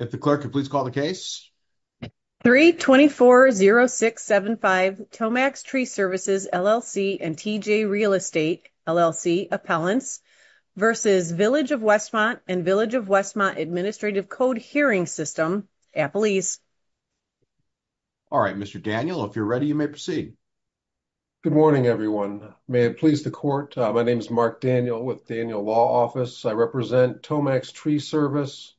324-0675 Tomax Tree Services, LLC and TJ Real Estate, LLC, Appellants v. Village of Westmont and Village of Westmont Administrative Code Hearing System, Appelese Alright Mr. Daniel, if you're ready you may proceed. Good morning everyone. May it please the court. My name is Mark Daniel with Daniel Law Office. I represent Tomax Tree Service,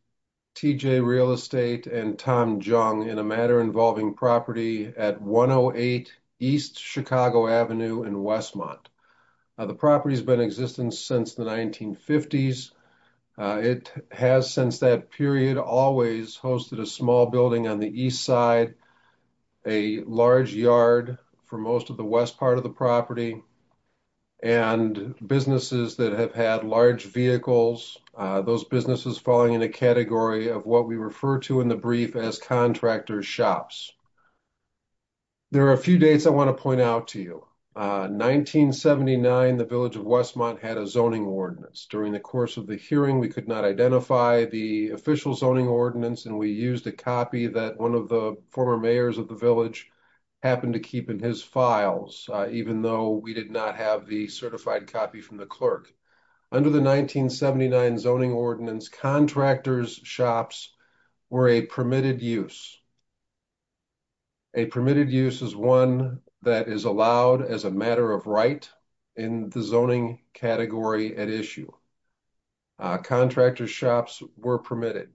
TJ Real Estate, and Tom Jung in a matter involving property at 108 East Chicago Avenue in Westmont. The property has been in existence since the 1950s. It has since that period always hosted a small building on the east side, a large yard for most of the west part of the property, and businesses that have had large vehicles. Those businesses falling in a category of what we refer to in the brief as contractor shops. There are a few dates I want to point out to you. 1979, the Village of Westmont had a zoning ordinance. During the course of the hearing, we could not identify the official zoning ordinance, and we used a copy that one of the former mayors of the village happened to keep in his files, even though we did not have the certified copy from the clerk. Under the 1979 zoning ordinance, contractors' shops were a permitted use. A permitted use is one that is allowed as a matter of right in the zoning category at issue. Contractors' shops were permitted.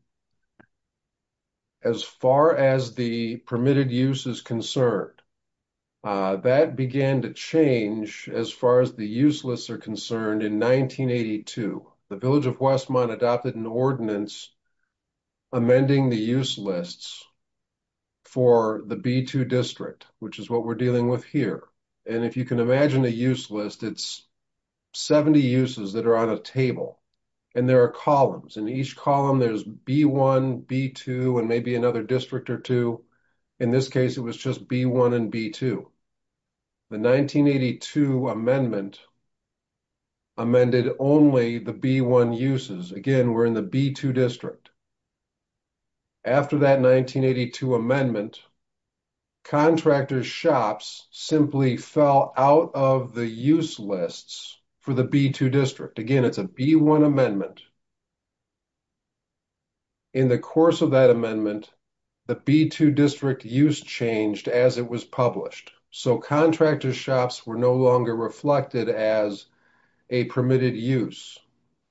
As far as the permitted use is concerned, that began to change as far as the useless are concerned. In 1982, the Village of Westmont adopted an ordinance amending the use lists for the B2 district, which is what we're dealing with here. If you can imagine a use list, it's 70 uses that are on a table, and there are columns. In each column, there's B1, B2, and maybe another district or two. In this case, it was just B1 and B2. The 1982 amendment amended only the B1 uses. Again, we're in the B2 district. After that 1982 amendment, contractors' shops simply fell out of the use lists for the B2 district. Again, it's a B1 amendment. In the course of that amendment, the B2 district use changed as it was published, so contractors' shops were no longer reflected as a permitted use.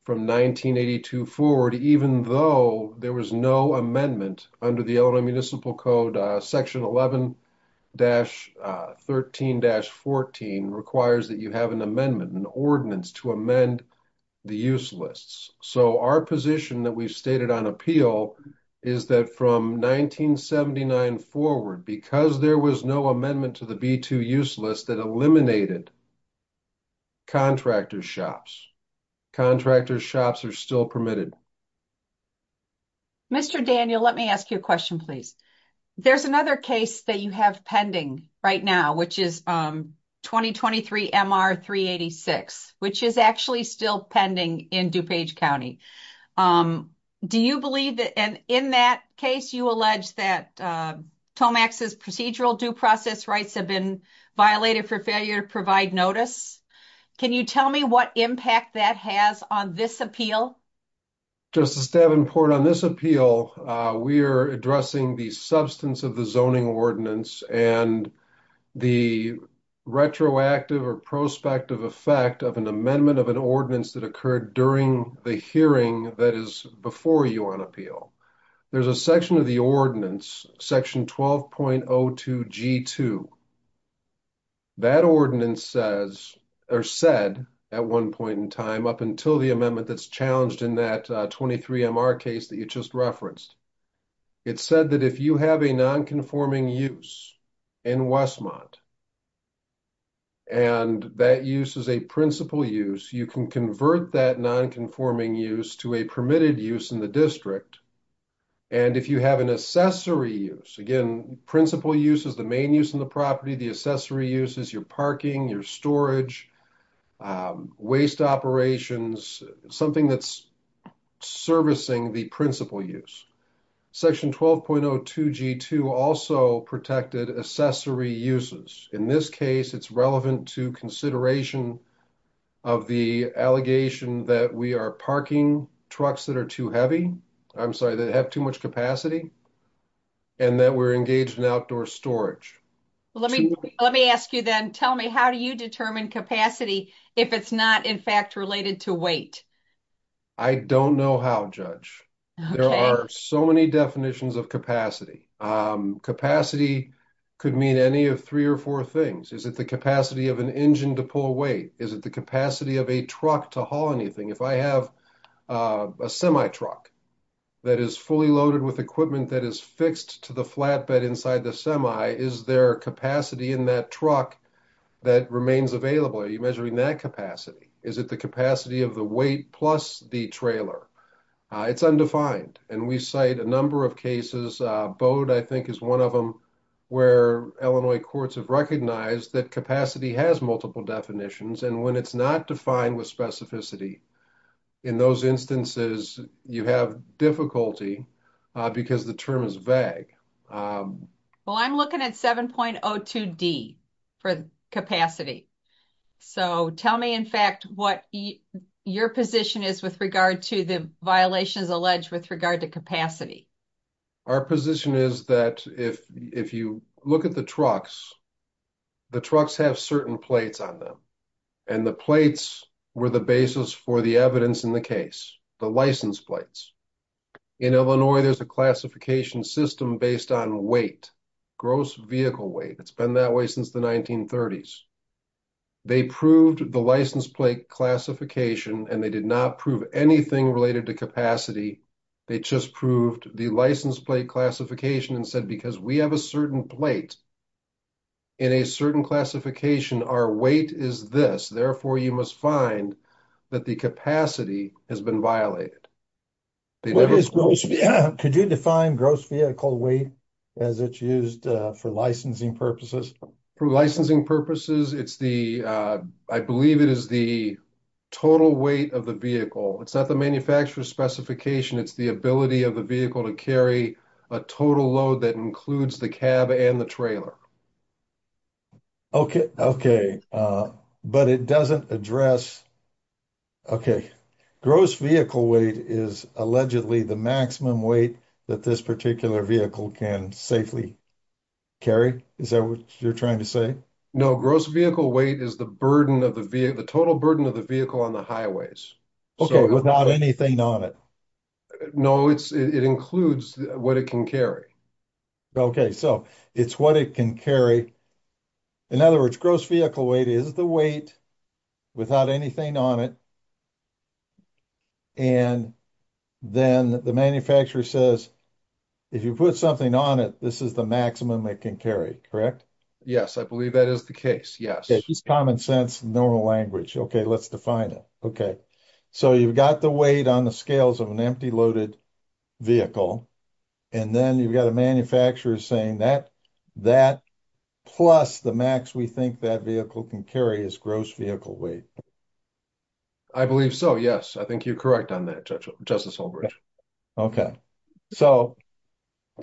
From 1982 forward, even though there was no amendment under the Illinois Municipal Code, Section 11-13-14 requires that you have an amendment, an ordinance to amend the use lists. Our position that we've stated on appeal is that from 1979 forward, because there was no amendment to the B2 use list that eliminated contractors' shops, contractors' shops are still permitted. Mr. Daniel, let me ask you a question, please. There's another case that you have pending right now, which is 2023-MR-386, which is actually still pending in DuPage County. In that case, you allege that Tomax's procedural due process rights have been violated for failure to provide notice. Can you tell me what impact that has on this appeal? Justice Davenport, on this appeal, we are addressing the substance of the zoning ordinance and the retroactive or prospective effect of an amendment of an ordinance that occurred during the hearing that is before you on appeal. There's a section of the ordinance, Section 12.02-G2. That ordinance said at one point in time, up until the amendment that's challenged in that 23-MR case that you just referenced, it said that if you have a non-conforming use in Westmont, and that use is a principal use, you can convert that non-conforming use to a permitted use in the district. And if you have an accessory use, again, principal use is the main use of the property, the accessory use is your parking, your storage, waste operations, something that's servicing the principal use. Section 12.02-G2 also protected accessory uses. In this case, it's relevant to consideration of the allegation that we are parking trucks that are too heavy, I'm sorry, that have too much capacity, and that we're engaged in outdoor storage. Let me ask you then, tell me, how do you determine capacity if it's not, in fact, related to weight? I don't know how, Judge. There are so many definitions of capacity. Capacity could mean any of three or four things. Is it the capacity of an engine to pull weight? Is it the capacity of a truck to haul anything? If I have a semi truck that is fully loaded with equipment that is fixed to the flatbed inside the semi, is there capacity in that truck that remains available? Are you measuring that capacity? Is it the capacity of the weight plus the trailer? It's undefined, and we cite a number of cases. Bode, I think, is one of them where Illinois courts have recognized that capacity has multiple definitions, and when it's not defined with specificity, in those instances, you have difficulty because the term is vague. Well, I'm looking at 7.02D for capacity. So tell me, in fact, what your position is with regard to the violations alleged with regard to capacity. Our position is that if you look at the trucks, the trucks have certain plates on them, and the plates were the basis for the evidence in the case, the license plates. In Illinois, there's a classification system based on weight, gross vehicle weight. It's been that way since the 1930s. They proved the license plate classification, and they did not prove anything related to capacity. They just proved the license plate classification and said, because we have a certain plate in a certain classification, our weight is this. Therefore, you must find that the capacity has been violated. Could you define gross vehicle weight as it's used for licensing purposes? For licensing purposes, I believe it is the total weight of the vehicle. It's not the manufacturer's specification. It's the ability of the vehicle to carry a total load that includes the cab and the trailer. Okay, but it doesn't address. Okay, gross vehicle weight is allegedly the maximum weight that this particular vehicle can safely. Carrie, is that what you're trying to say? No, gross vehicle weight is the burden of the vehicle, the total burden of the vehicle on the highways. Okay, without anything on it. No, it's it includes what it can carry. Okay, so it's what it can carry. In other words, gross vehicle weight is the weight. Without anything on it. And then the manufacturer says. If you put something on it, this is the maximum I can carry. Correct. Yes, I believe that is the case. Yes, common sense, normal language. Okay, let's define it. Okay. So, you've got the weight on the scales of an empty loaded. Vehicle, and then you've got a manufacturer saying that. That plus the max, we think that vehicle can carry is gross vehicle weight. I believe so. Yes, I think you're correct on that. Okay, so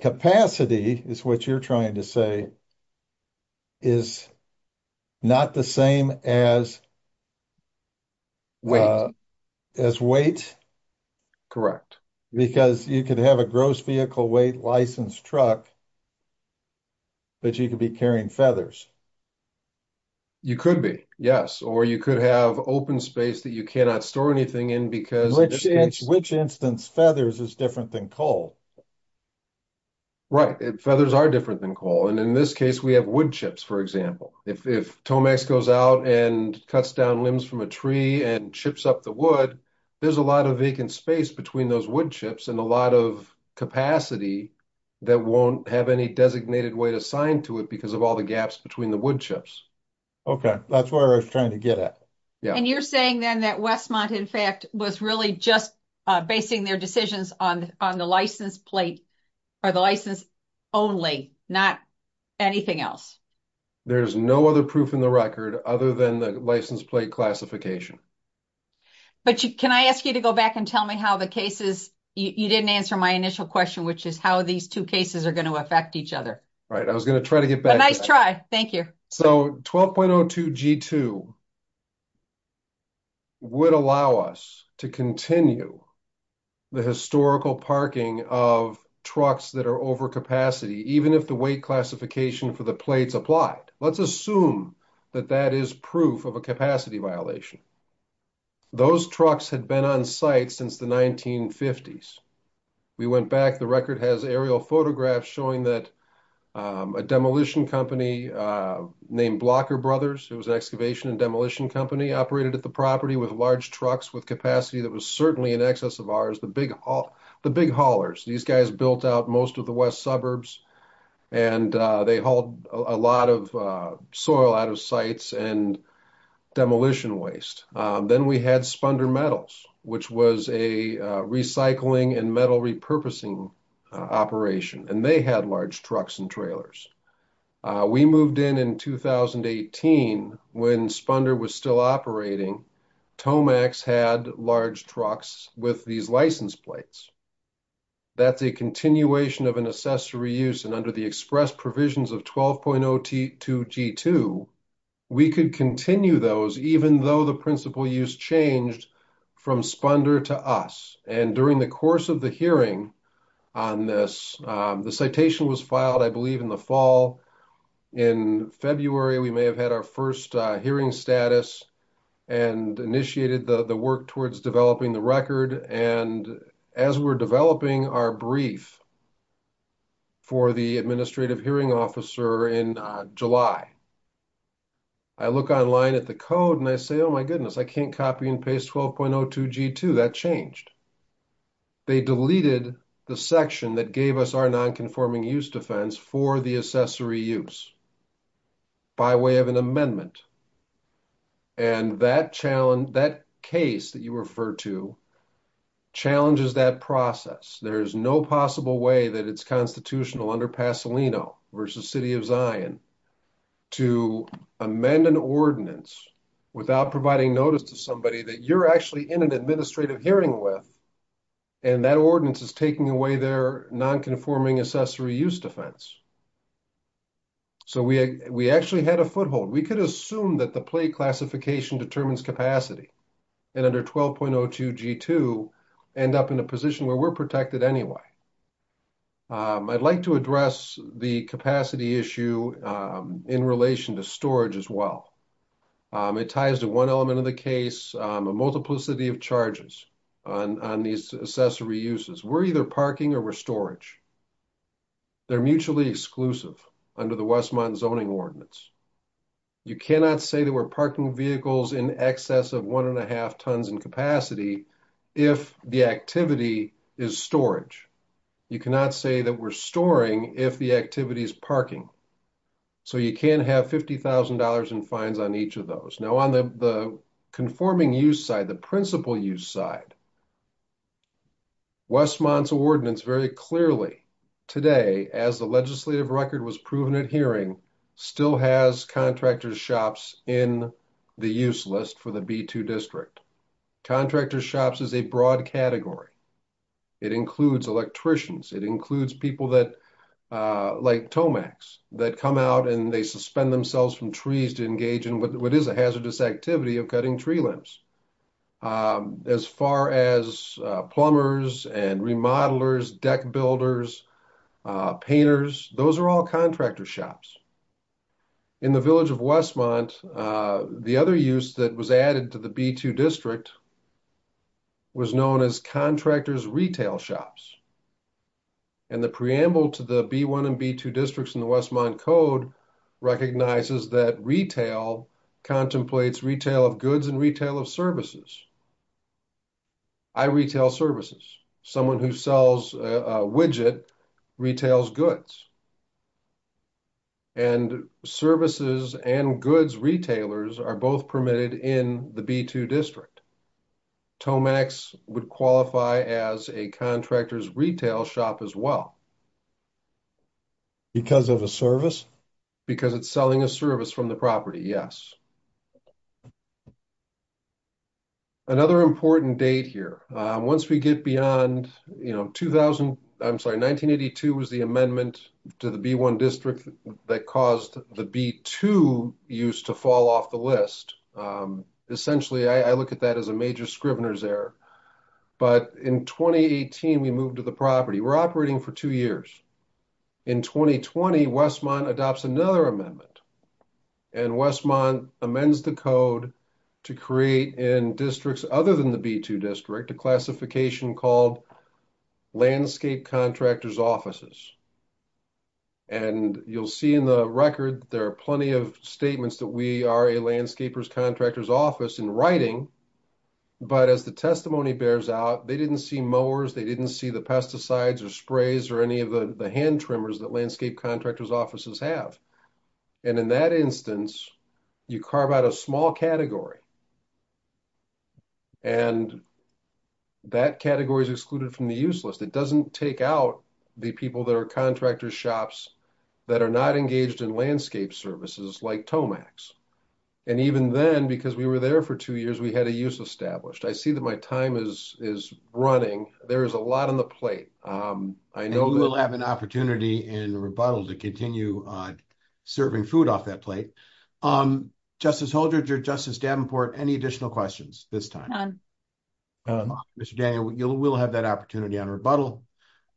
capacity is what you're trying to say. Is not the same as. As weight. Correct, because you could have a gross vehicle weight license truck. But you could be carrying feathers. You could be yes, or you could have open space that you cannot store anything in because which instance feathers is different than coal. Right. Feathers are different than coal. And in this case, we have wood chips. For example, if Tomax goes out and cuts down limbs from a tree and chips up the wood. There's a lot of vacant space between those wood chips and a lot of capacity. That won't have any designated way to sign to it because of all the gaps between the wood chips. Okay, that's where I was trying to get at. Yeah. And you're saying then that Westmont, in fact, was really just basing their decisions on on the license plate. Or the license only not anything else. There's no other proof in the record other than the license plate classification. But can I ask you to go back and tell me how the cases you didn't answer my initial question, which is how these 2 cases are going to affect each other. All right, I was going to try to get back. Nice try. Thank you. So 12.02 G2. Would allow us to continue. The historical parking of trucks that are over capacity, even if the weight classification for the plates applied, let's assume that that is proof of a capacity violation. Those trucks had been on site since the 1950s. We went back the record has aerial photographs showing that. A demolition company named blocker brothers, it was an excavation and demolition company operated at the property with large trucks with capacity. That was certainly in excess of ours. The big haul. The big haulers, these guys built out most of the West suburbs. And they hold a lot of soil out of sites and. Demolition waste, then we had spunder metals, which was a recycling and metal repurposing. Operation, and they had large trucks and trailers. We moved in in 2018 when spunder was still operating. Tomax had large trucks with these license plates. That's a continuation of an accessory use and under the express provisions of 12.02 G2. We could continue those, even though the principle use changed. From spunder to us, and during the course of the hearing. On this, the citation was filed, I believe in the fall. In February, we may have had our 1st hearing status. And initiated the work towards developing the record and as we're developing our brief. For the administrative hearing officer in July. I look online at the code and I say, oh, my goodness, I can't copy and paste 12.02 G2 that changed. They deleted the section that gave us our nonconforming use defense for the accessory use. By way of an amendment. And that challenge that case that you refer to. Challenges that process. There is no possible way that it's constitutional under Pasolino versus city of Zion. To amend an ordinance. Without providing notice to somebody that you're actually in an administrative hearing with. And that ordinance is taking away their nonconforming accessory use defense. So, we, we actually had a foothold. We could assume that the plate classification determines capacity. And under 12.02 G2 end up in a position where we're protected anyway. I'd like to address the capacity issue in relation to storage as well. It ties to 1 element of the case, a multiplicity of charges. On on these accessory uses, we're either parking or storage. They're mutually exclusive under the Westmont zoning ordinance. You cannot say that we're parking vehicles in excess of 1 and a half tons in capacity. If the activity is storage. You cannot say that we're storing if the activity is parking. So, you can have 50,000 dollars in fines on each of those now on the. Conforming use side, the principal use side. Westmont's ordinance very clearly. Today, as the legislative record was proven at hearing. Still has contractors shops in the useless for the B2 district. Contractor shops is a broad category. It includes electricians. It includes people that. Like Tomax that come out and they suspend themselves from trees to engage in what is a hazardous activity of cutting tree limbs. As far as plumbers and remodelers deck builders. Painters, those are all contractor shops. In the village of Westmont, the other use that was added to the B2 district. Was known as contractors retail shops. And the preamble to the B1 and B2 districts in the Westmont code. Recognizes that retail. Contemplates retail of goods and retail of services. I retail services. Someone who sells a widget retails goods. And services and goods retailers are both permitted in the B2 district. Tomax would qualify as a contractor's retail shop as well. Because of a service, because it's selling a service from the property. Yes. Another important date here, once we get beyond 2000, I'm sorry, 1982 was the amendment to the B1 district that caused the B2 used to fall off the list. Essentially, I look at that as a major Scrivener's error. But in 2018, we moved to the property. We're operating for 2 years. In 2020, Westmont adopts another amendment. And Westmont amends the code. To create in districts, other than the B2 district, a classification called. Landscape contractors offices. And you'll see in the record, there are plenty of statements that we are a landscapers contractors office in writing. But as the testimony bears out, they didn't see mowers. They didn't see the pesticides or sprays or any of the hand tremors that landscape contractors offices have. And in that instance, you carve out a small category. And that category is excluded from the useless. It doesn't take out. The people that are contractor shops that are not engaged in landscape services, like Tomax. And even then, because we were there for 2 years, we had a use established. I see that my time is running. There is a lot on the plate. I know we'll have an opportunity in rebuttal to continue serving food off that plate. Justice Holder, Justice Davenport, any additional questions this time? Mr. Daniel, you will have that opportunity on rebuttal.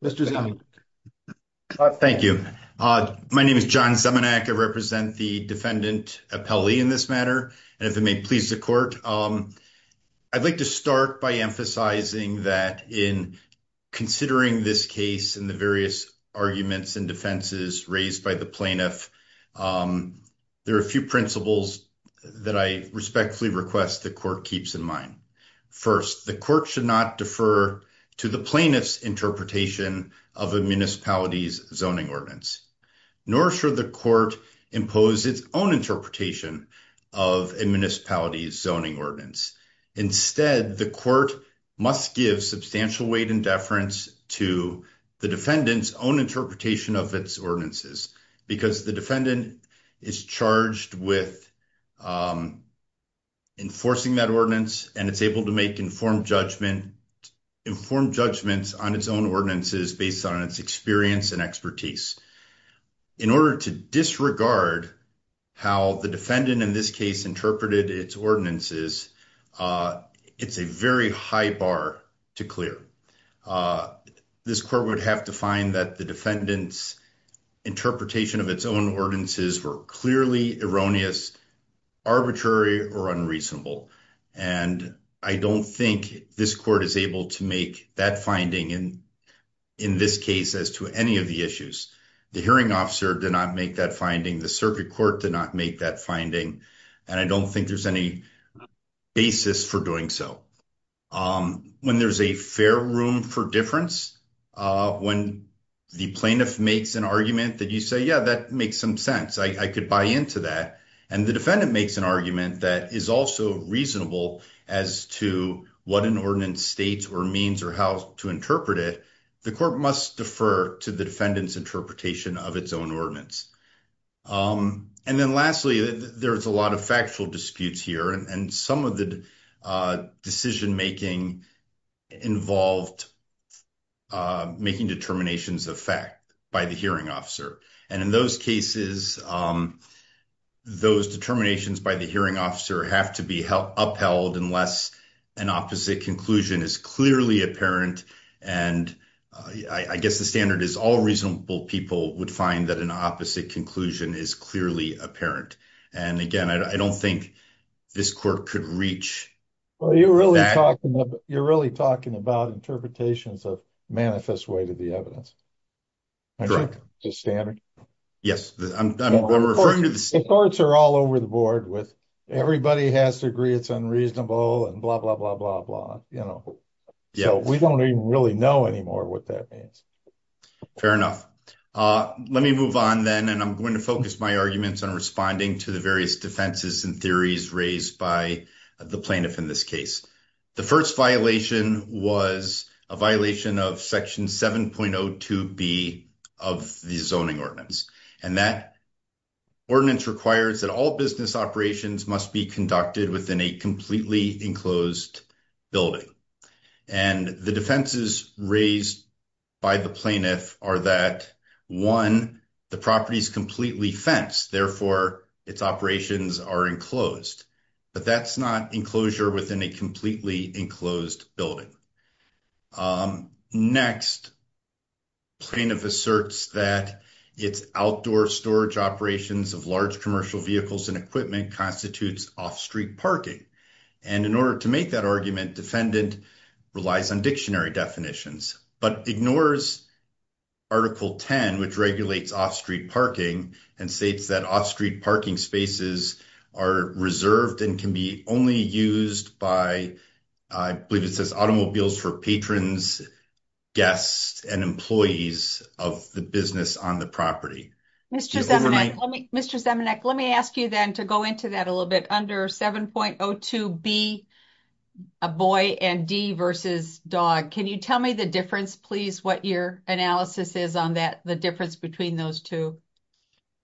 Thank you. My name is John. I represent the defendant appellee in this matter. And if it may please the court, I'd like to start by emphasizing that in considering this case and the various arguments and defenses raised by the plaintiff. There are a few principles that I respectfully request the court keeps in mind. First, the court should not defer to the plaintiff's interpretation of a municipality's zoning ordinance. Nor should the court impose its own interpretation of a municipality's zoning ordinance. Instead, the court must give substantial weight and deference to the defendant's own interpretation of its ordinances. Because the defendant is charged with enforcing that ordinance, and it's able to make informed judgments on its own ordinances based on its experience and expertise. In order to disregard how the defendant in this case interpreted its ordinances, it's a very high bar to clear. This court would have to find that the defendant's interpretation of its own ordinances were clearly erroneous, arbitrary, or unreasonable. And I don't think this court is able to make that finding in this case as to any of the issues. The hearing officer did not make that finding. The circuit court did not make that finding. And I don't think there's any basis for doing so. When there's a fair room for difference, when the plaintiff makes an argument that you say, yeah, that makes some sense, I could buy into that. And the defendant makes an argument that is also reasonable as to what an ordinance states or means or how to interpret it. The court must defer to the defendant's interpretation of its own ordinance. And then lastly, there's a lot of factual disputes here. And some of the decision making involved making determinations of fact by the hearing officer. And in those cases, those determinations by the hearing officer have to be upheld unless an opposite conclusion is clearly apparent. And I guess the standard is all reasonable people would find that an opposite conclusion is clearly apparent. And again, I don't think this court could reach that. Well, you're really talking about interpretations of manifest way to the evidence. The standard. Yes, I'm referring to the courts are all over the board with everybody has to agree it's unreasonable and blah, blah, blah, blah, blah. You know, we don't even really know anymore what that means. Fair enough. Let me move on then and I'm going to focus my arguments on responding to the various defenses and theories raised by the plaintiff in this case. The first violation was a violation of section 7.02 B of the zoning ordinance. And that ordinance requires that all business operations must be conducted within a completely enclosed building. And the defenses raised by the plaintiff are that one, the property is completely fenced. Therefore, its operations are enclosed. But that's not enclosure within a completely enclosed building. Next, plaintiff asserts that it's outdoor storage operations of large commercial vehicles and equipment constitutes off street parking. And in order to make that argument, defendant relies on dictionary definitions, but ignores article 10, which regulates off street parking and states that off street parking spaces are reserved and can be only used by. I believe it says automobiles for patrons, guests, and employees of the business on the property. Mr. Zemanek, let me ask you then to go into that a little bit under 7.02 B, a boy and D versus dog. Can you tell me the difference, please, what your analysis is on that, the difference between those two?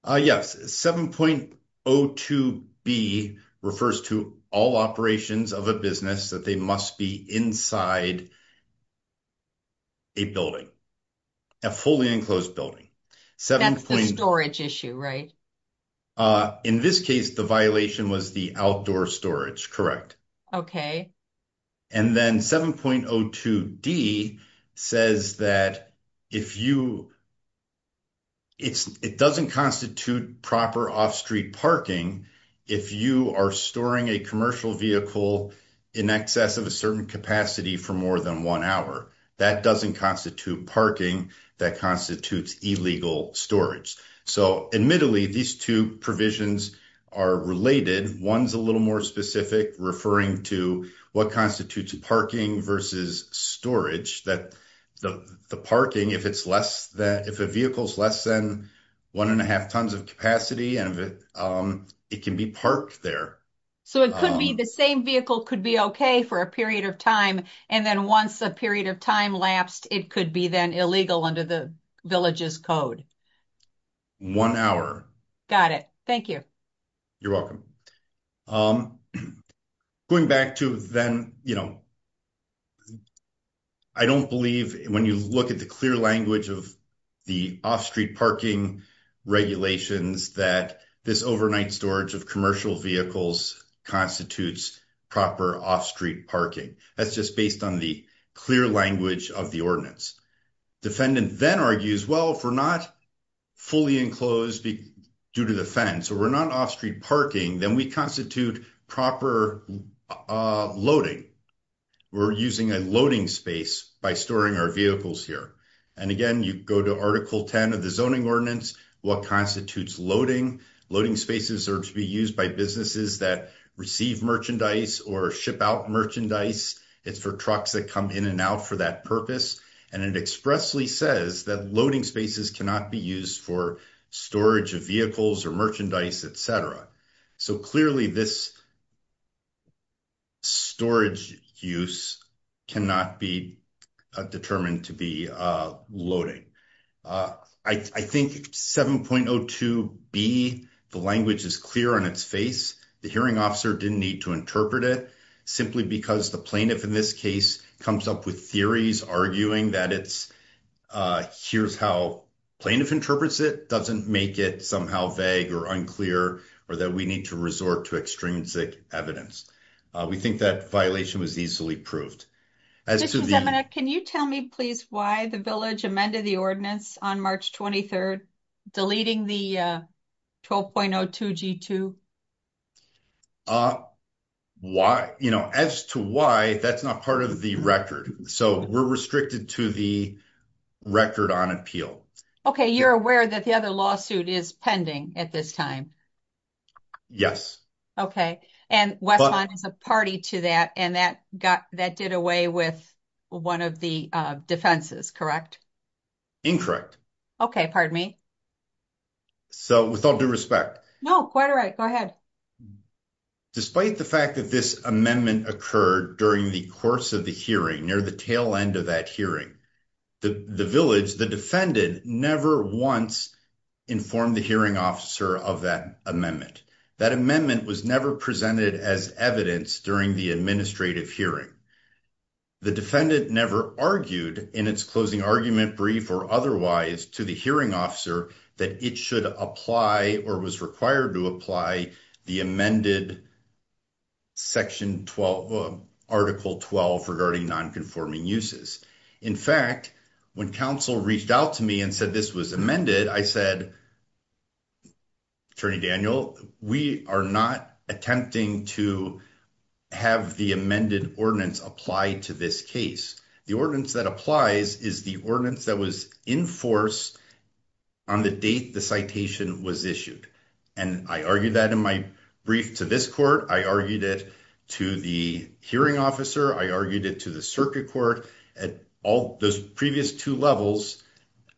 Yes, 7.02 B refers to all operations of a business that they must be inside. A building. A fully enclosed building 7 storage issue, right? In this case, the violation was the outdoor storage. Correct. Okay. And then 7.02 D says that if you. It's it doesn't constitute proper off street parking. If you are storing a commercial vehicle in excess of a certain capacity for more than 1 hour, that doesn't constitute parking that constitutes illegal storage. So, admittedly, these 2 provisions are related. 1's a little more specific, referring to what constitutes parking versus storage that the parking if it's less than if a vehicle is less than. 1 and a half tons of capacity, and it can be parked there. So, it could be the same vehicle could be okay for a period of time. And then once a period of time lapsed, it could be then illegal under the villages code. 1 hour got it. Thank you. You're welcome going back to then. I don't believe when you look at the clear language of. The off street parking regulations that this overnight storage of commercial vehicles constitutes proper off street parking. That's just based on the clear language of the ordinance. Defendant then argues well, if we're not fully enclosed due to the fence, or we're not off street parking, then we constitute proper loading. We're using a loading space by storing our vehicles here. And again, you go to article 10 of the zoning ordinance. What constitutes loading loading spaces are to be used by businesses that receive merchandise or ship out merchandise. It's for trucks that come in and out for that purpose. And it expressly says that loading spaces cannot be used for storage of vehicles or merchandise, etc. So, clearly, this storage use cannot be determined to be loading. I think 7.02 be the language is clear on its face. The hearing officer didn't need to interpret it simply because the plaintiff in this case comes up with theories arguing that it's. Here's how plaintiff interprets it doesn't make it somehow vague or unclear, or that we need to resort to extrinsic evidence. We think that violation was easily proved. Can you tell me please why the village amended the ordinance on March 23rd, deleting the 12.02 G2. Why, you know, as to why that's not part of the record. So we're restricted to the record on appeal. Okay, you're aware that the other lawsuit is pending at this time. Yes. Okay. And what is a party to that? And that got that did away with 1 of the defenses. Correct. Incorrect. Okay. Pardon me. So, with all due respect. No, quite right. Go ahead. Despite the fact that this amendment occurred during the course of the hearing near the tail end of that hearing the village, the defendant never once informed the hearing officer of that amendment. That amendment was never presented as evidence during the administrative hearing. The defendant never argued in its closing argument brief or otherwise to the hearing officer that it should apply or was required to apply the amended section 12 article 12 regarding nonconforming uses. In fact, when council reached out to me and said, this was amended, I said, attorney Daniel, we are not attempting to have the amended ordinance applied to this case. The ordinance that applies is the ordinance that was in force on the date. The citation was issued and I argued that in my brief to this court. I argued it to the hearing officer. I argued it to the circuit court at all those previous 2 levels.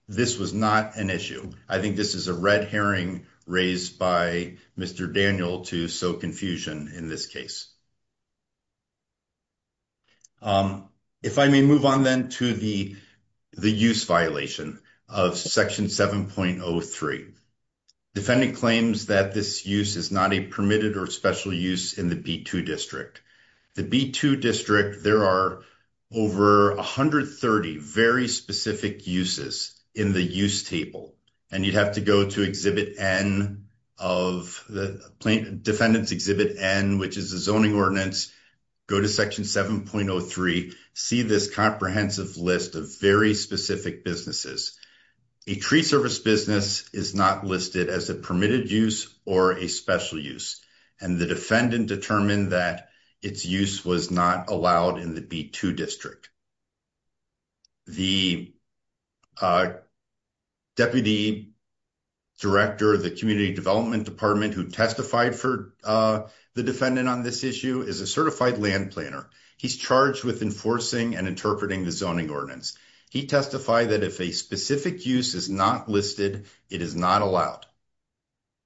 This was not an issue. I think this is a red herring raised by Mr. Daniel to so confusion in this case. If I may move on then to the, the use violation of section 7.03. Defending claims that this use is not a permitted or special use in the B2 district. The B2 district, there are over 130 very specific uses in the use table, and you'd have to go to exhibit N of the plaintiff defendants exhibit N, which is the zoning ordinance. Go to section 7.03 see this comprehensive list of very specific businesses. A tree service business is not listed as a permitted use, or a special use, and the defendant determined that its use was not allowed in the B2 district. The deputy director of the community development department who testified for the defendant on this issue is a certified land planner. He's charged with enforcing and interpreting the zoning ordinance. He testified that if a specific use is not listed, it is not allowed.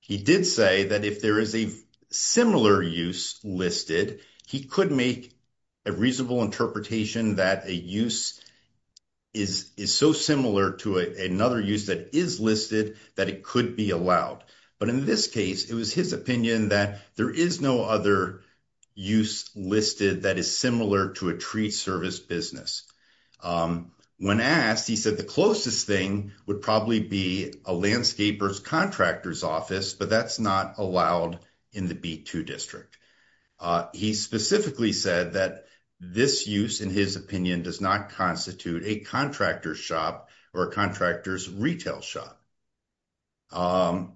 He did say that if there is a similar use listed, he could make a reasonable interpretation that a use is so similar to another use that is listed that it could be allowed. But in this case, it was his opinion that there is no other use listed that is similar to a tree service business. When asked, he said the closest thing would probably be a landscaper's contractor's office, but that's not allowed in the B2 district. He specifically said that this use, in his opinion, does not constitute a contractor's shop or a contractor's retail shop. And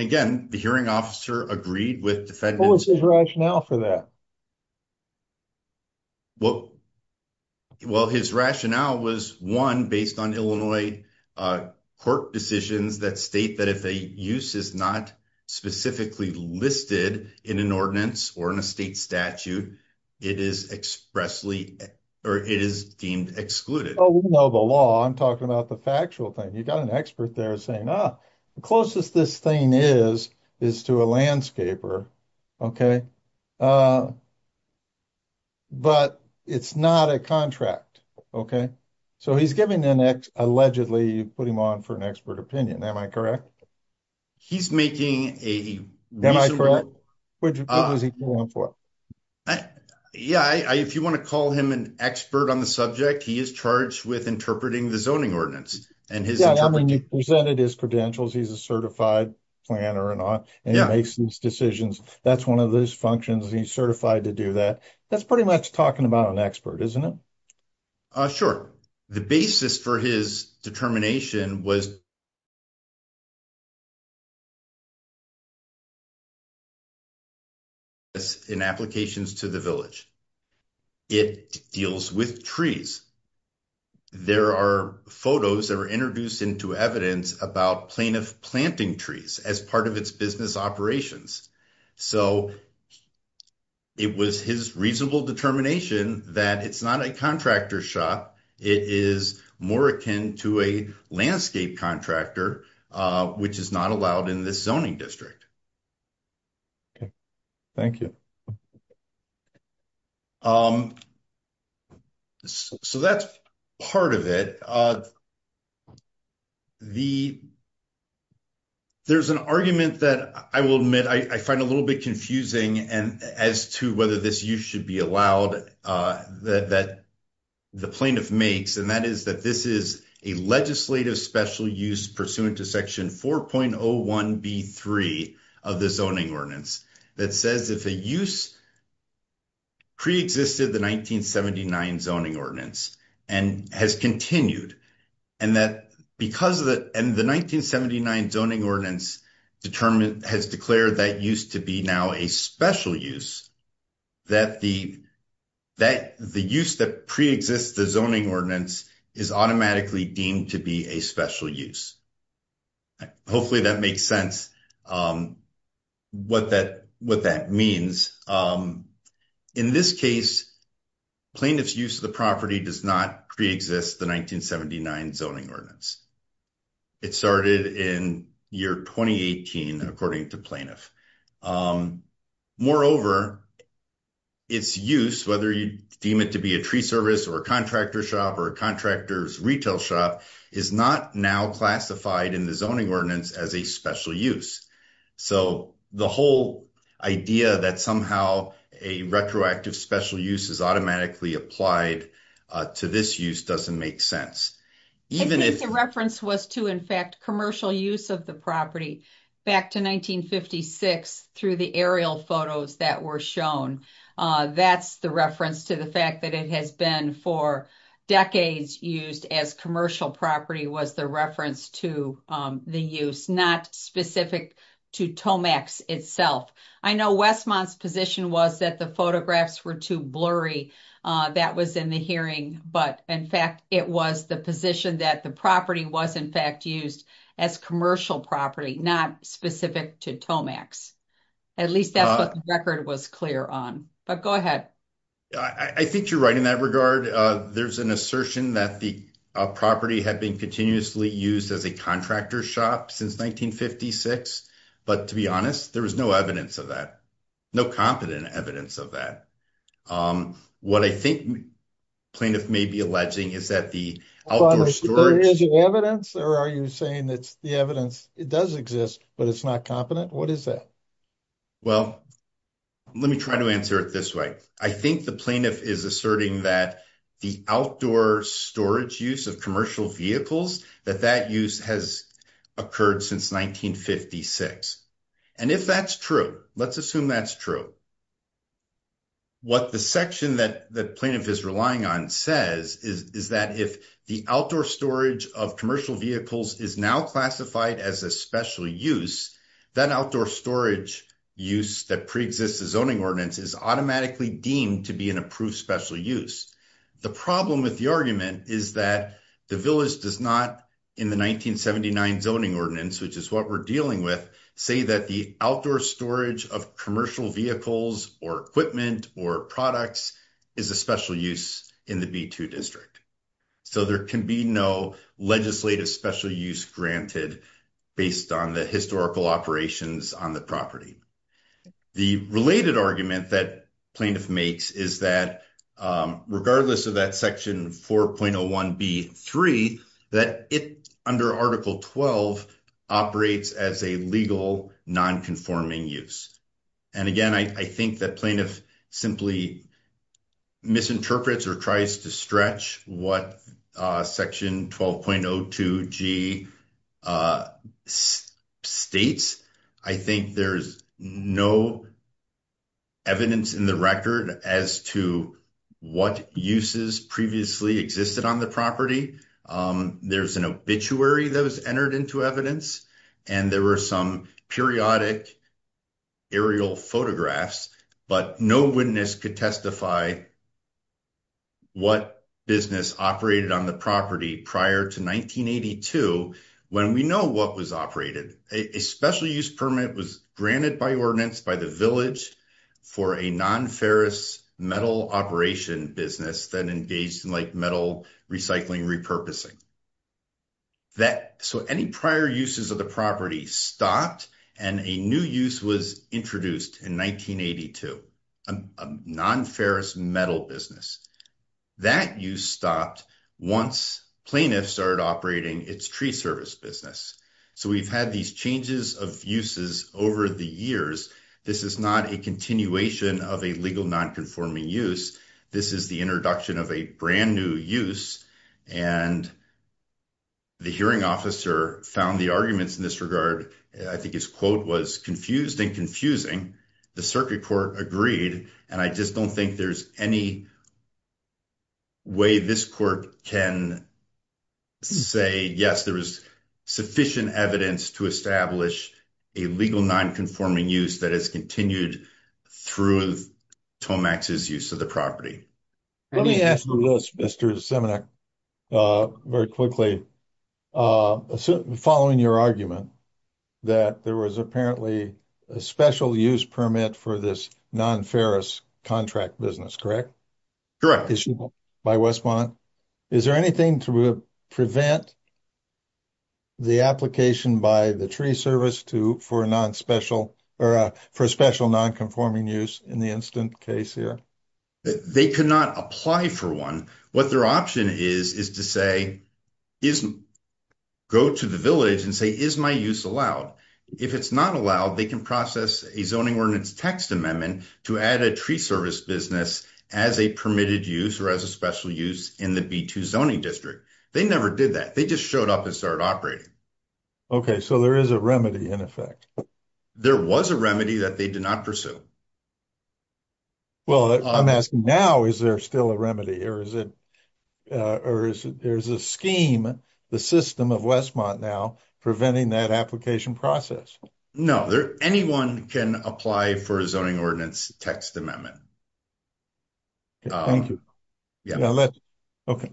again, the hearing officer agreed with defendants. What was his rationale for that? Well, his rationale was, one, based on Illinois court decisions that state that if a use is not specifically listed in an ordinance or in a state statute, it is expressly, or it is deemed excluded. Oh, we know the law. I'm talking about the factual thing. You got an expert there saying, ah, the closest this thing is, is to a landscaper. Okay. But it's not a contract. Okay. So, he's giving the next allegedly put him on for an expert opinion. Am I correct? He's making a. Yeah, if you want to call him an expert on the subject, he is charged with interpreting the zoning ordinance. Yeah, I mean, he presented his credentials. He's a certified planner and all, and he makes these decisions. That's 1 of those functions. He's certified to do that. That's pretty much talking about an expert, isn't it? Sure, the basis for his determination was. In applications to the village. It deals with trees. There are photos that were introduced into evidence about plaintiff planting trees as part of its business operations. So, it was his reasonable determination that it's not a contractor shot. It is more akin to a landscape contractor, which is not allowed in this zoning district. Okay, thank you. So that's part of it. The, there's an argument that I will admit, I find a little bit confusing and as to whether this, you should be allowed that. The plaintiff makes, and that is that this is a legislative special use pursuant to section 4.01 B3 of the zoning ordinance that says if a use. Pre existed the 1979 zoning ordinance and has continued. And that because of that, and the 1979 zoning ordinance determined has declared that used to be now a special use. That the, that the use that pre exists the zoning ordinance is automatically deemed to be a special use. Hopefully that makes sense. What that what that means. In this case, plaintiff's use of the property does not pre exist the 1979 zoning ordinance. It started in year 2018, according to plaintiff. Moreover, it's use, whether you deem it to be a tree service or a contractor shop or a contractor's retail shop is not now classified in the zoning ordinance as a special use. So, the whole idea that somehow a retroactive special use is automatically applied to this use doesn't make sense. The reference was to, in fact, commercial use of the property back to 1956 through the aerial photos that were shown. That's the reference to the fact that it has been for decades used as commercial property was the reference to the use not specific to Tomax itself. I know Westmont's position was that the photographs were too blurry. That was in the hearing, but in fact, it was the position that the property was, in fact, used as commercial property, not specific to Tomax. At least that record was clear on, but go ahead. I think you're right in that regard. There's an assertion that the property had been continuously used as a contractor shop since 1956. But to be honest, there was no evidence of that. No competent evidence of that. What I think plaintiff may be alleging is that the evidence or are you saying that the evidence, it does exist, but it's not competent. What is that? Well, let me try to answer it this way. I think the plaintiff is asserting that the outdoor storage use of commercial vehicles, that that use has occurred since 1956. And if that's true, let's assume that's true. What the section that plaintiff is relying on says is that if the outdoor storage of commercial vehicles is now classified as a special use, that outdoor storage use that preexists the zoning ordinance is automatically deemed to be an approved special use. The problem with the argument is that the village does not, in the 1979 zoning ordinance, which is what we're dealing with, say that the outdoor storage of commercial vehicles or equipment or products is a special use in the B2 district. So there can be no legislative special use granted based on the historical operations on the property. The related argument that plaintiff makes is that regardless of that section 4.01B3, that it, under Article 12, operates as a legal nonconforming use. And again, I think that plaintiff simply misinterprets or tries to stretch what section 12.02G states. I think there's no evidence in the record as to what uses previously existed on the property. There's an obituary that was entered into evidence, and there were some periodic aerial photographs, but no witness could testify what business operated on the property prior to 1982 when we know what was operated, a special use permit was granted by ordinance by the village for a non-ferrous metal operation business that engaged in metal recycling repurposing. So any prior uses of the property stopped, and a new use was introduced in 1982, a non-ferrous metal business. That use stopped once plaintiff started operating its tree service business. So we've had these changes of uses over the years. This is not a continuation of a legal nonconforming use. This is the introduction of a brand-new use, and the hearing officer found the arguments in this regard, I think his quote was, confused and confusing, the circuit court agreed, and I just don't think there's any way this court can say, yes, there is sufficient evidence to establish a legal nonconforming use that has continued through Tomex's use of the property. Let me ask you this, Mr. Semenuk, very quickly. Following your argument that there was apparently a special use permit for this non-ferrous contract business, correct? Correct. By Westmont. Is there anything to prevent the application by the tree service for a special nonconforming use in the instant case here? They could not apply for one. What their option is, is to say, go to the village and say, is my use allowed? If it's not allowed, they can process a zoning ordinance text amendment to add a tree service business as a permitted use or as a special use in the B-2 zoning district. They never did that. They just showed up and started operating. Okay, so there is a remedy in effect. There was a remedy that they did not pursue. Well, I'm asking now, is there still a remedy or is it, or is there's a scheme, the system of Westmont now preventing that application process? No, anyone can apply for a zoning ordinance text amendment. Thank you. Okay.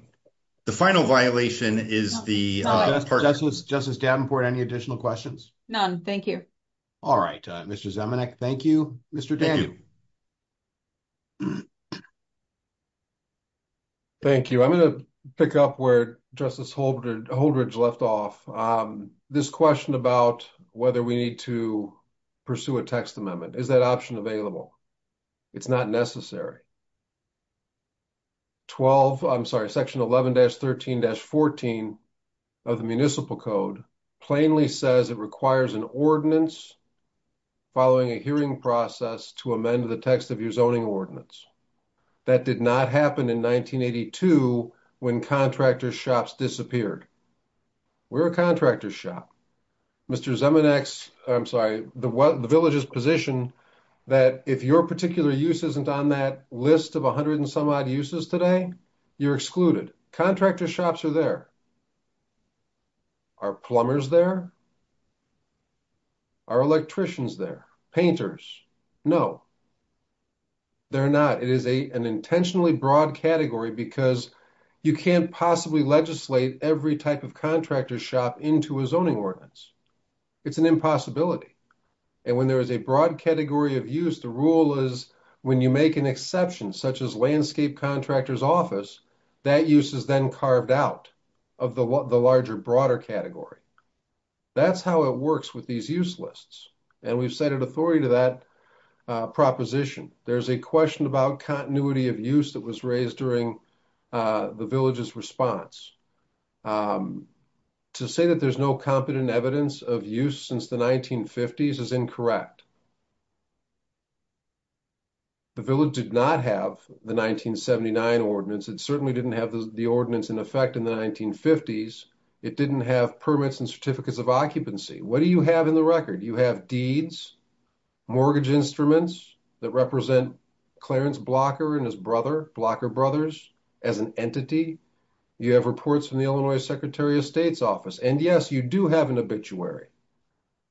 The final violation is the. Justice Davenport, any additional questions? None, thank you. All right, Mr. Thank you, Mr. Thank you, I'm going to pick up where justice Holdridge left off this question about whether we need to. Pursue a text amendment is that option available? It's not necessary. 12, I'm sorry section 11 dash 13 dash 14. Of the municipal code plainly says it requires an ordinance. Following a hearing process to amend the text of your zoning ordinance. That did not happen in 1982 when contractor shops disappeared. We're a contractor shop. Mr. I'm sorry, the village's position. That if your particular use isn't on that list of 100 and some odd uses today. You're excluded contractor shops are there. Are plumbers there. Our electricians, their painters. No. They're not, it is a, an intentionally broad category because. You can't possibly legislate every type of contractor shop into a zoning ordinance. It's an impossibility. And when there is a broad category of use, the rule is. When you make an exception, such as landscape contractors office. That use is then carved out of the larger, broader category. That's how it works with these use lists. And we've cited authority to that proposition. There's a question about continuity of use that was raised during. The village's response. To say that there's no competent evidence of use since the 1950s is incorrect. The village did not have the 1979 ordinance. It certainly didn't have the ordinance in effect in the 1950s. It didn't have permits and certificates of occupancy. What do you have in the record? You have deeds. Mortgage instruments that represent. Clarence blocker and his brother blocker brothers. As an entity. You have reports from the Illinois secretary of state's office. And yes, you do have an obituary.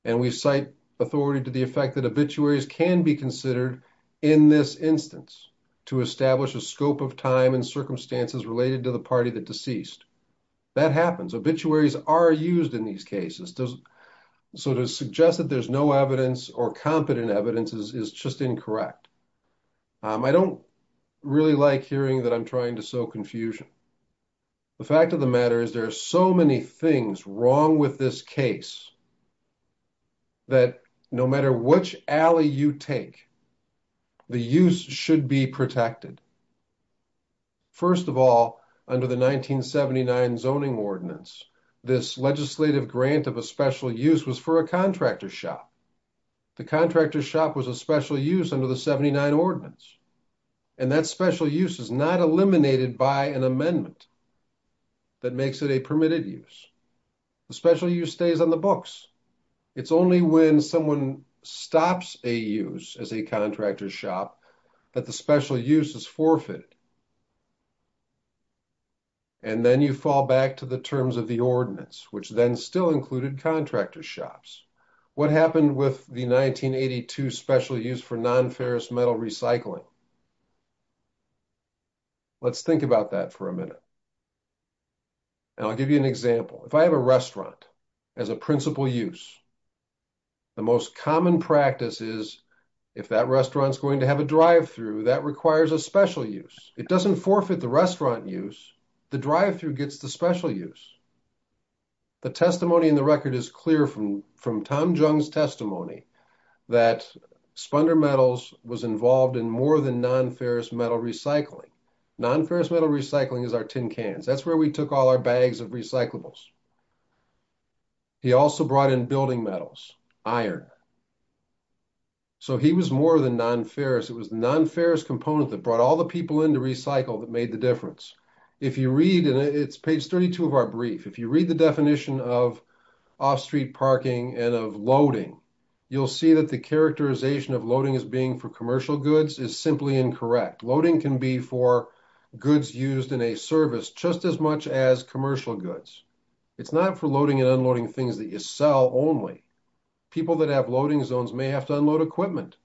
And we cite authority to the effect that obituaries can be considered. In this instance. To establish a scope of time and circumstances related to the party, the deceased. That happens. Obituaries are used in these cases. So to suggest that there's no evidence or competent evidence is, is just incorrect. I don't. Really like hearing that I'm trying to sow confusion. The fact of the matter is there are so many things wrong with this case. That no matter which alley you take. The use should be protected. The use should be protected. First of all, under the 1979 zoning ordinance. This legislative grant of a special use was for a contractor shop. The contractor shop was a special use under the 79 ordinance. And that special use is not eliminated by an amendment. That makes it a permitted use. Especially you stays on the books. It's only when someone stops a use as a contractor shop. That the special use is forfeited. And then you fall back to the terms of the ordinance, which then still included contractor shops. What happened with the 1982 specially used for non-ferrous metal recycling. Let's think about that for a minute. And I'll give you an example. If I have a restaurant. As a principal use. The most common practice is. If that restaurant is going to have a drive-thru that requires a special use. It doesn't forfeit the restaurant use. The drive-through gets the special use. The testimony in the record is clear from, from Tom Jones testimony that. He was involved in more than non-ferrous metal recycling. Non-ferrous metal recycling is our tin cans. That's where we took all our bags of recyclables. He also brought in building metals iron. So he was more than non-ferrous. It was non-ferrous component that brought all the people into recycle that made the difference. If you read it, it's page 32 of our brief. If you read the definition of. Off-street parking and of loading. You'll see that the characterization of loading as being for commercial goods is simply incorrect. Loading can be for. Goods used in a service just as much as commercial goods. It's not for loading and unloading things that you sell only. People that have loading zones may have to unload equipment.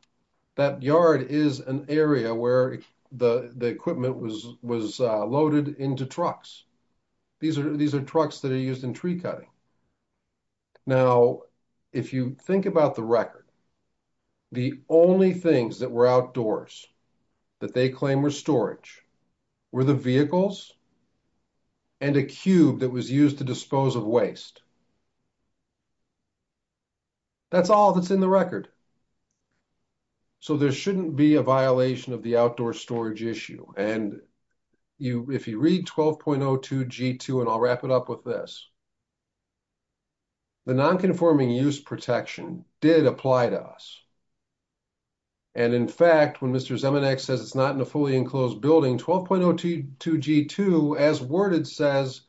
That yard is an area where the, the equipment was, was loaded into trucks. These are, these are trucks that are used in tree cutting. Now, if you think about the record. The only things that were outdoors. That they claim were storage. Were the vehicles. And a cube that was used to dispose of waste. That's all that's in the record. So there shouldn't be a violation of the outdoor storage issue and. I'll just say that. You, if you read 12.02 G2 and I'll wrap it up with this. The non-conforming use protection did apply to us. And in fact, when Mr. Zeman X says it's not in a fully enclosed building, 12.02. Two G2 as worded says.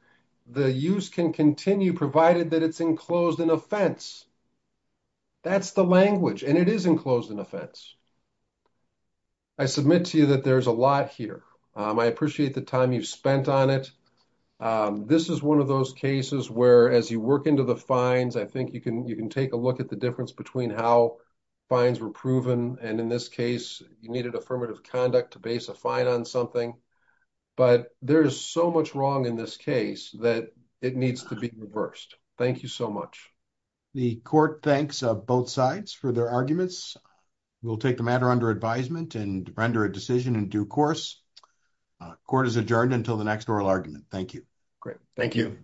The use can continue provided that it's enclosed in a fence. That's the language and it is enclosed in a fence. I submit to you that there's a lot here. I appreciate the time you've spent on it. This is one of those cases where, as you work into the fines, I think you can, you can take a look at the difference between how. Fines were proven. And in this case, you needed affirmative conduct to base a fine on something. But there's so much wrong in this case that it needs to be reversed. Thank you so much. The court thanks both sides for their arguments. We'll take the matter under advisement and render a decision in due course. Court is adjourned until the next oral argument. Thank you. Great. Thank you.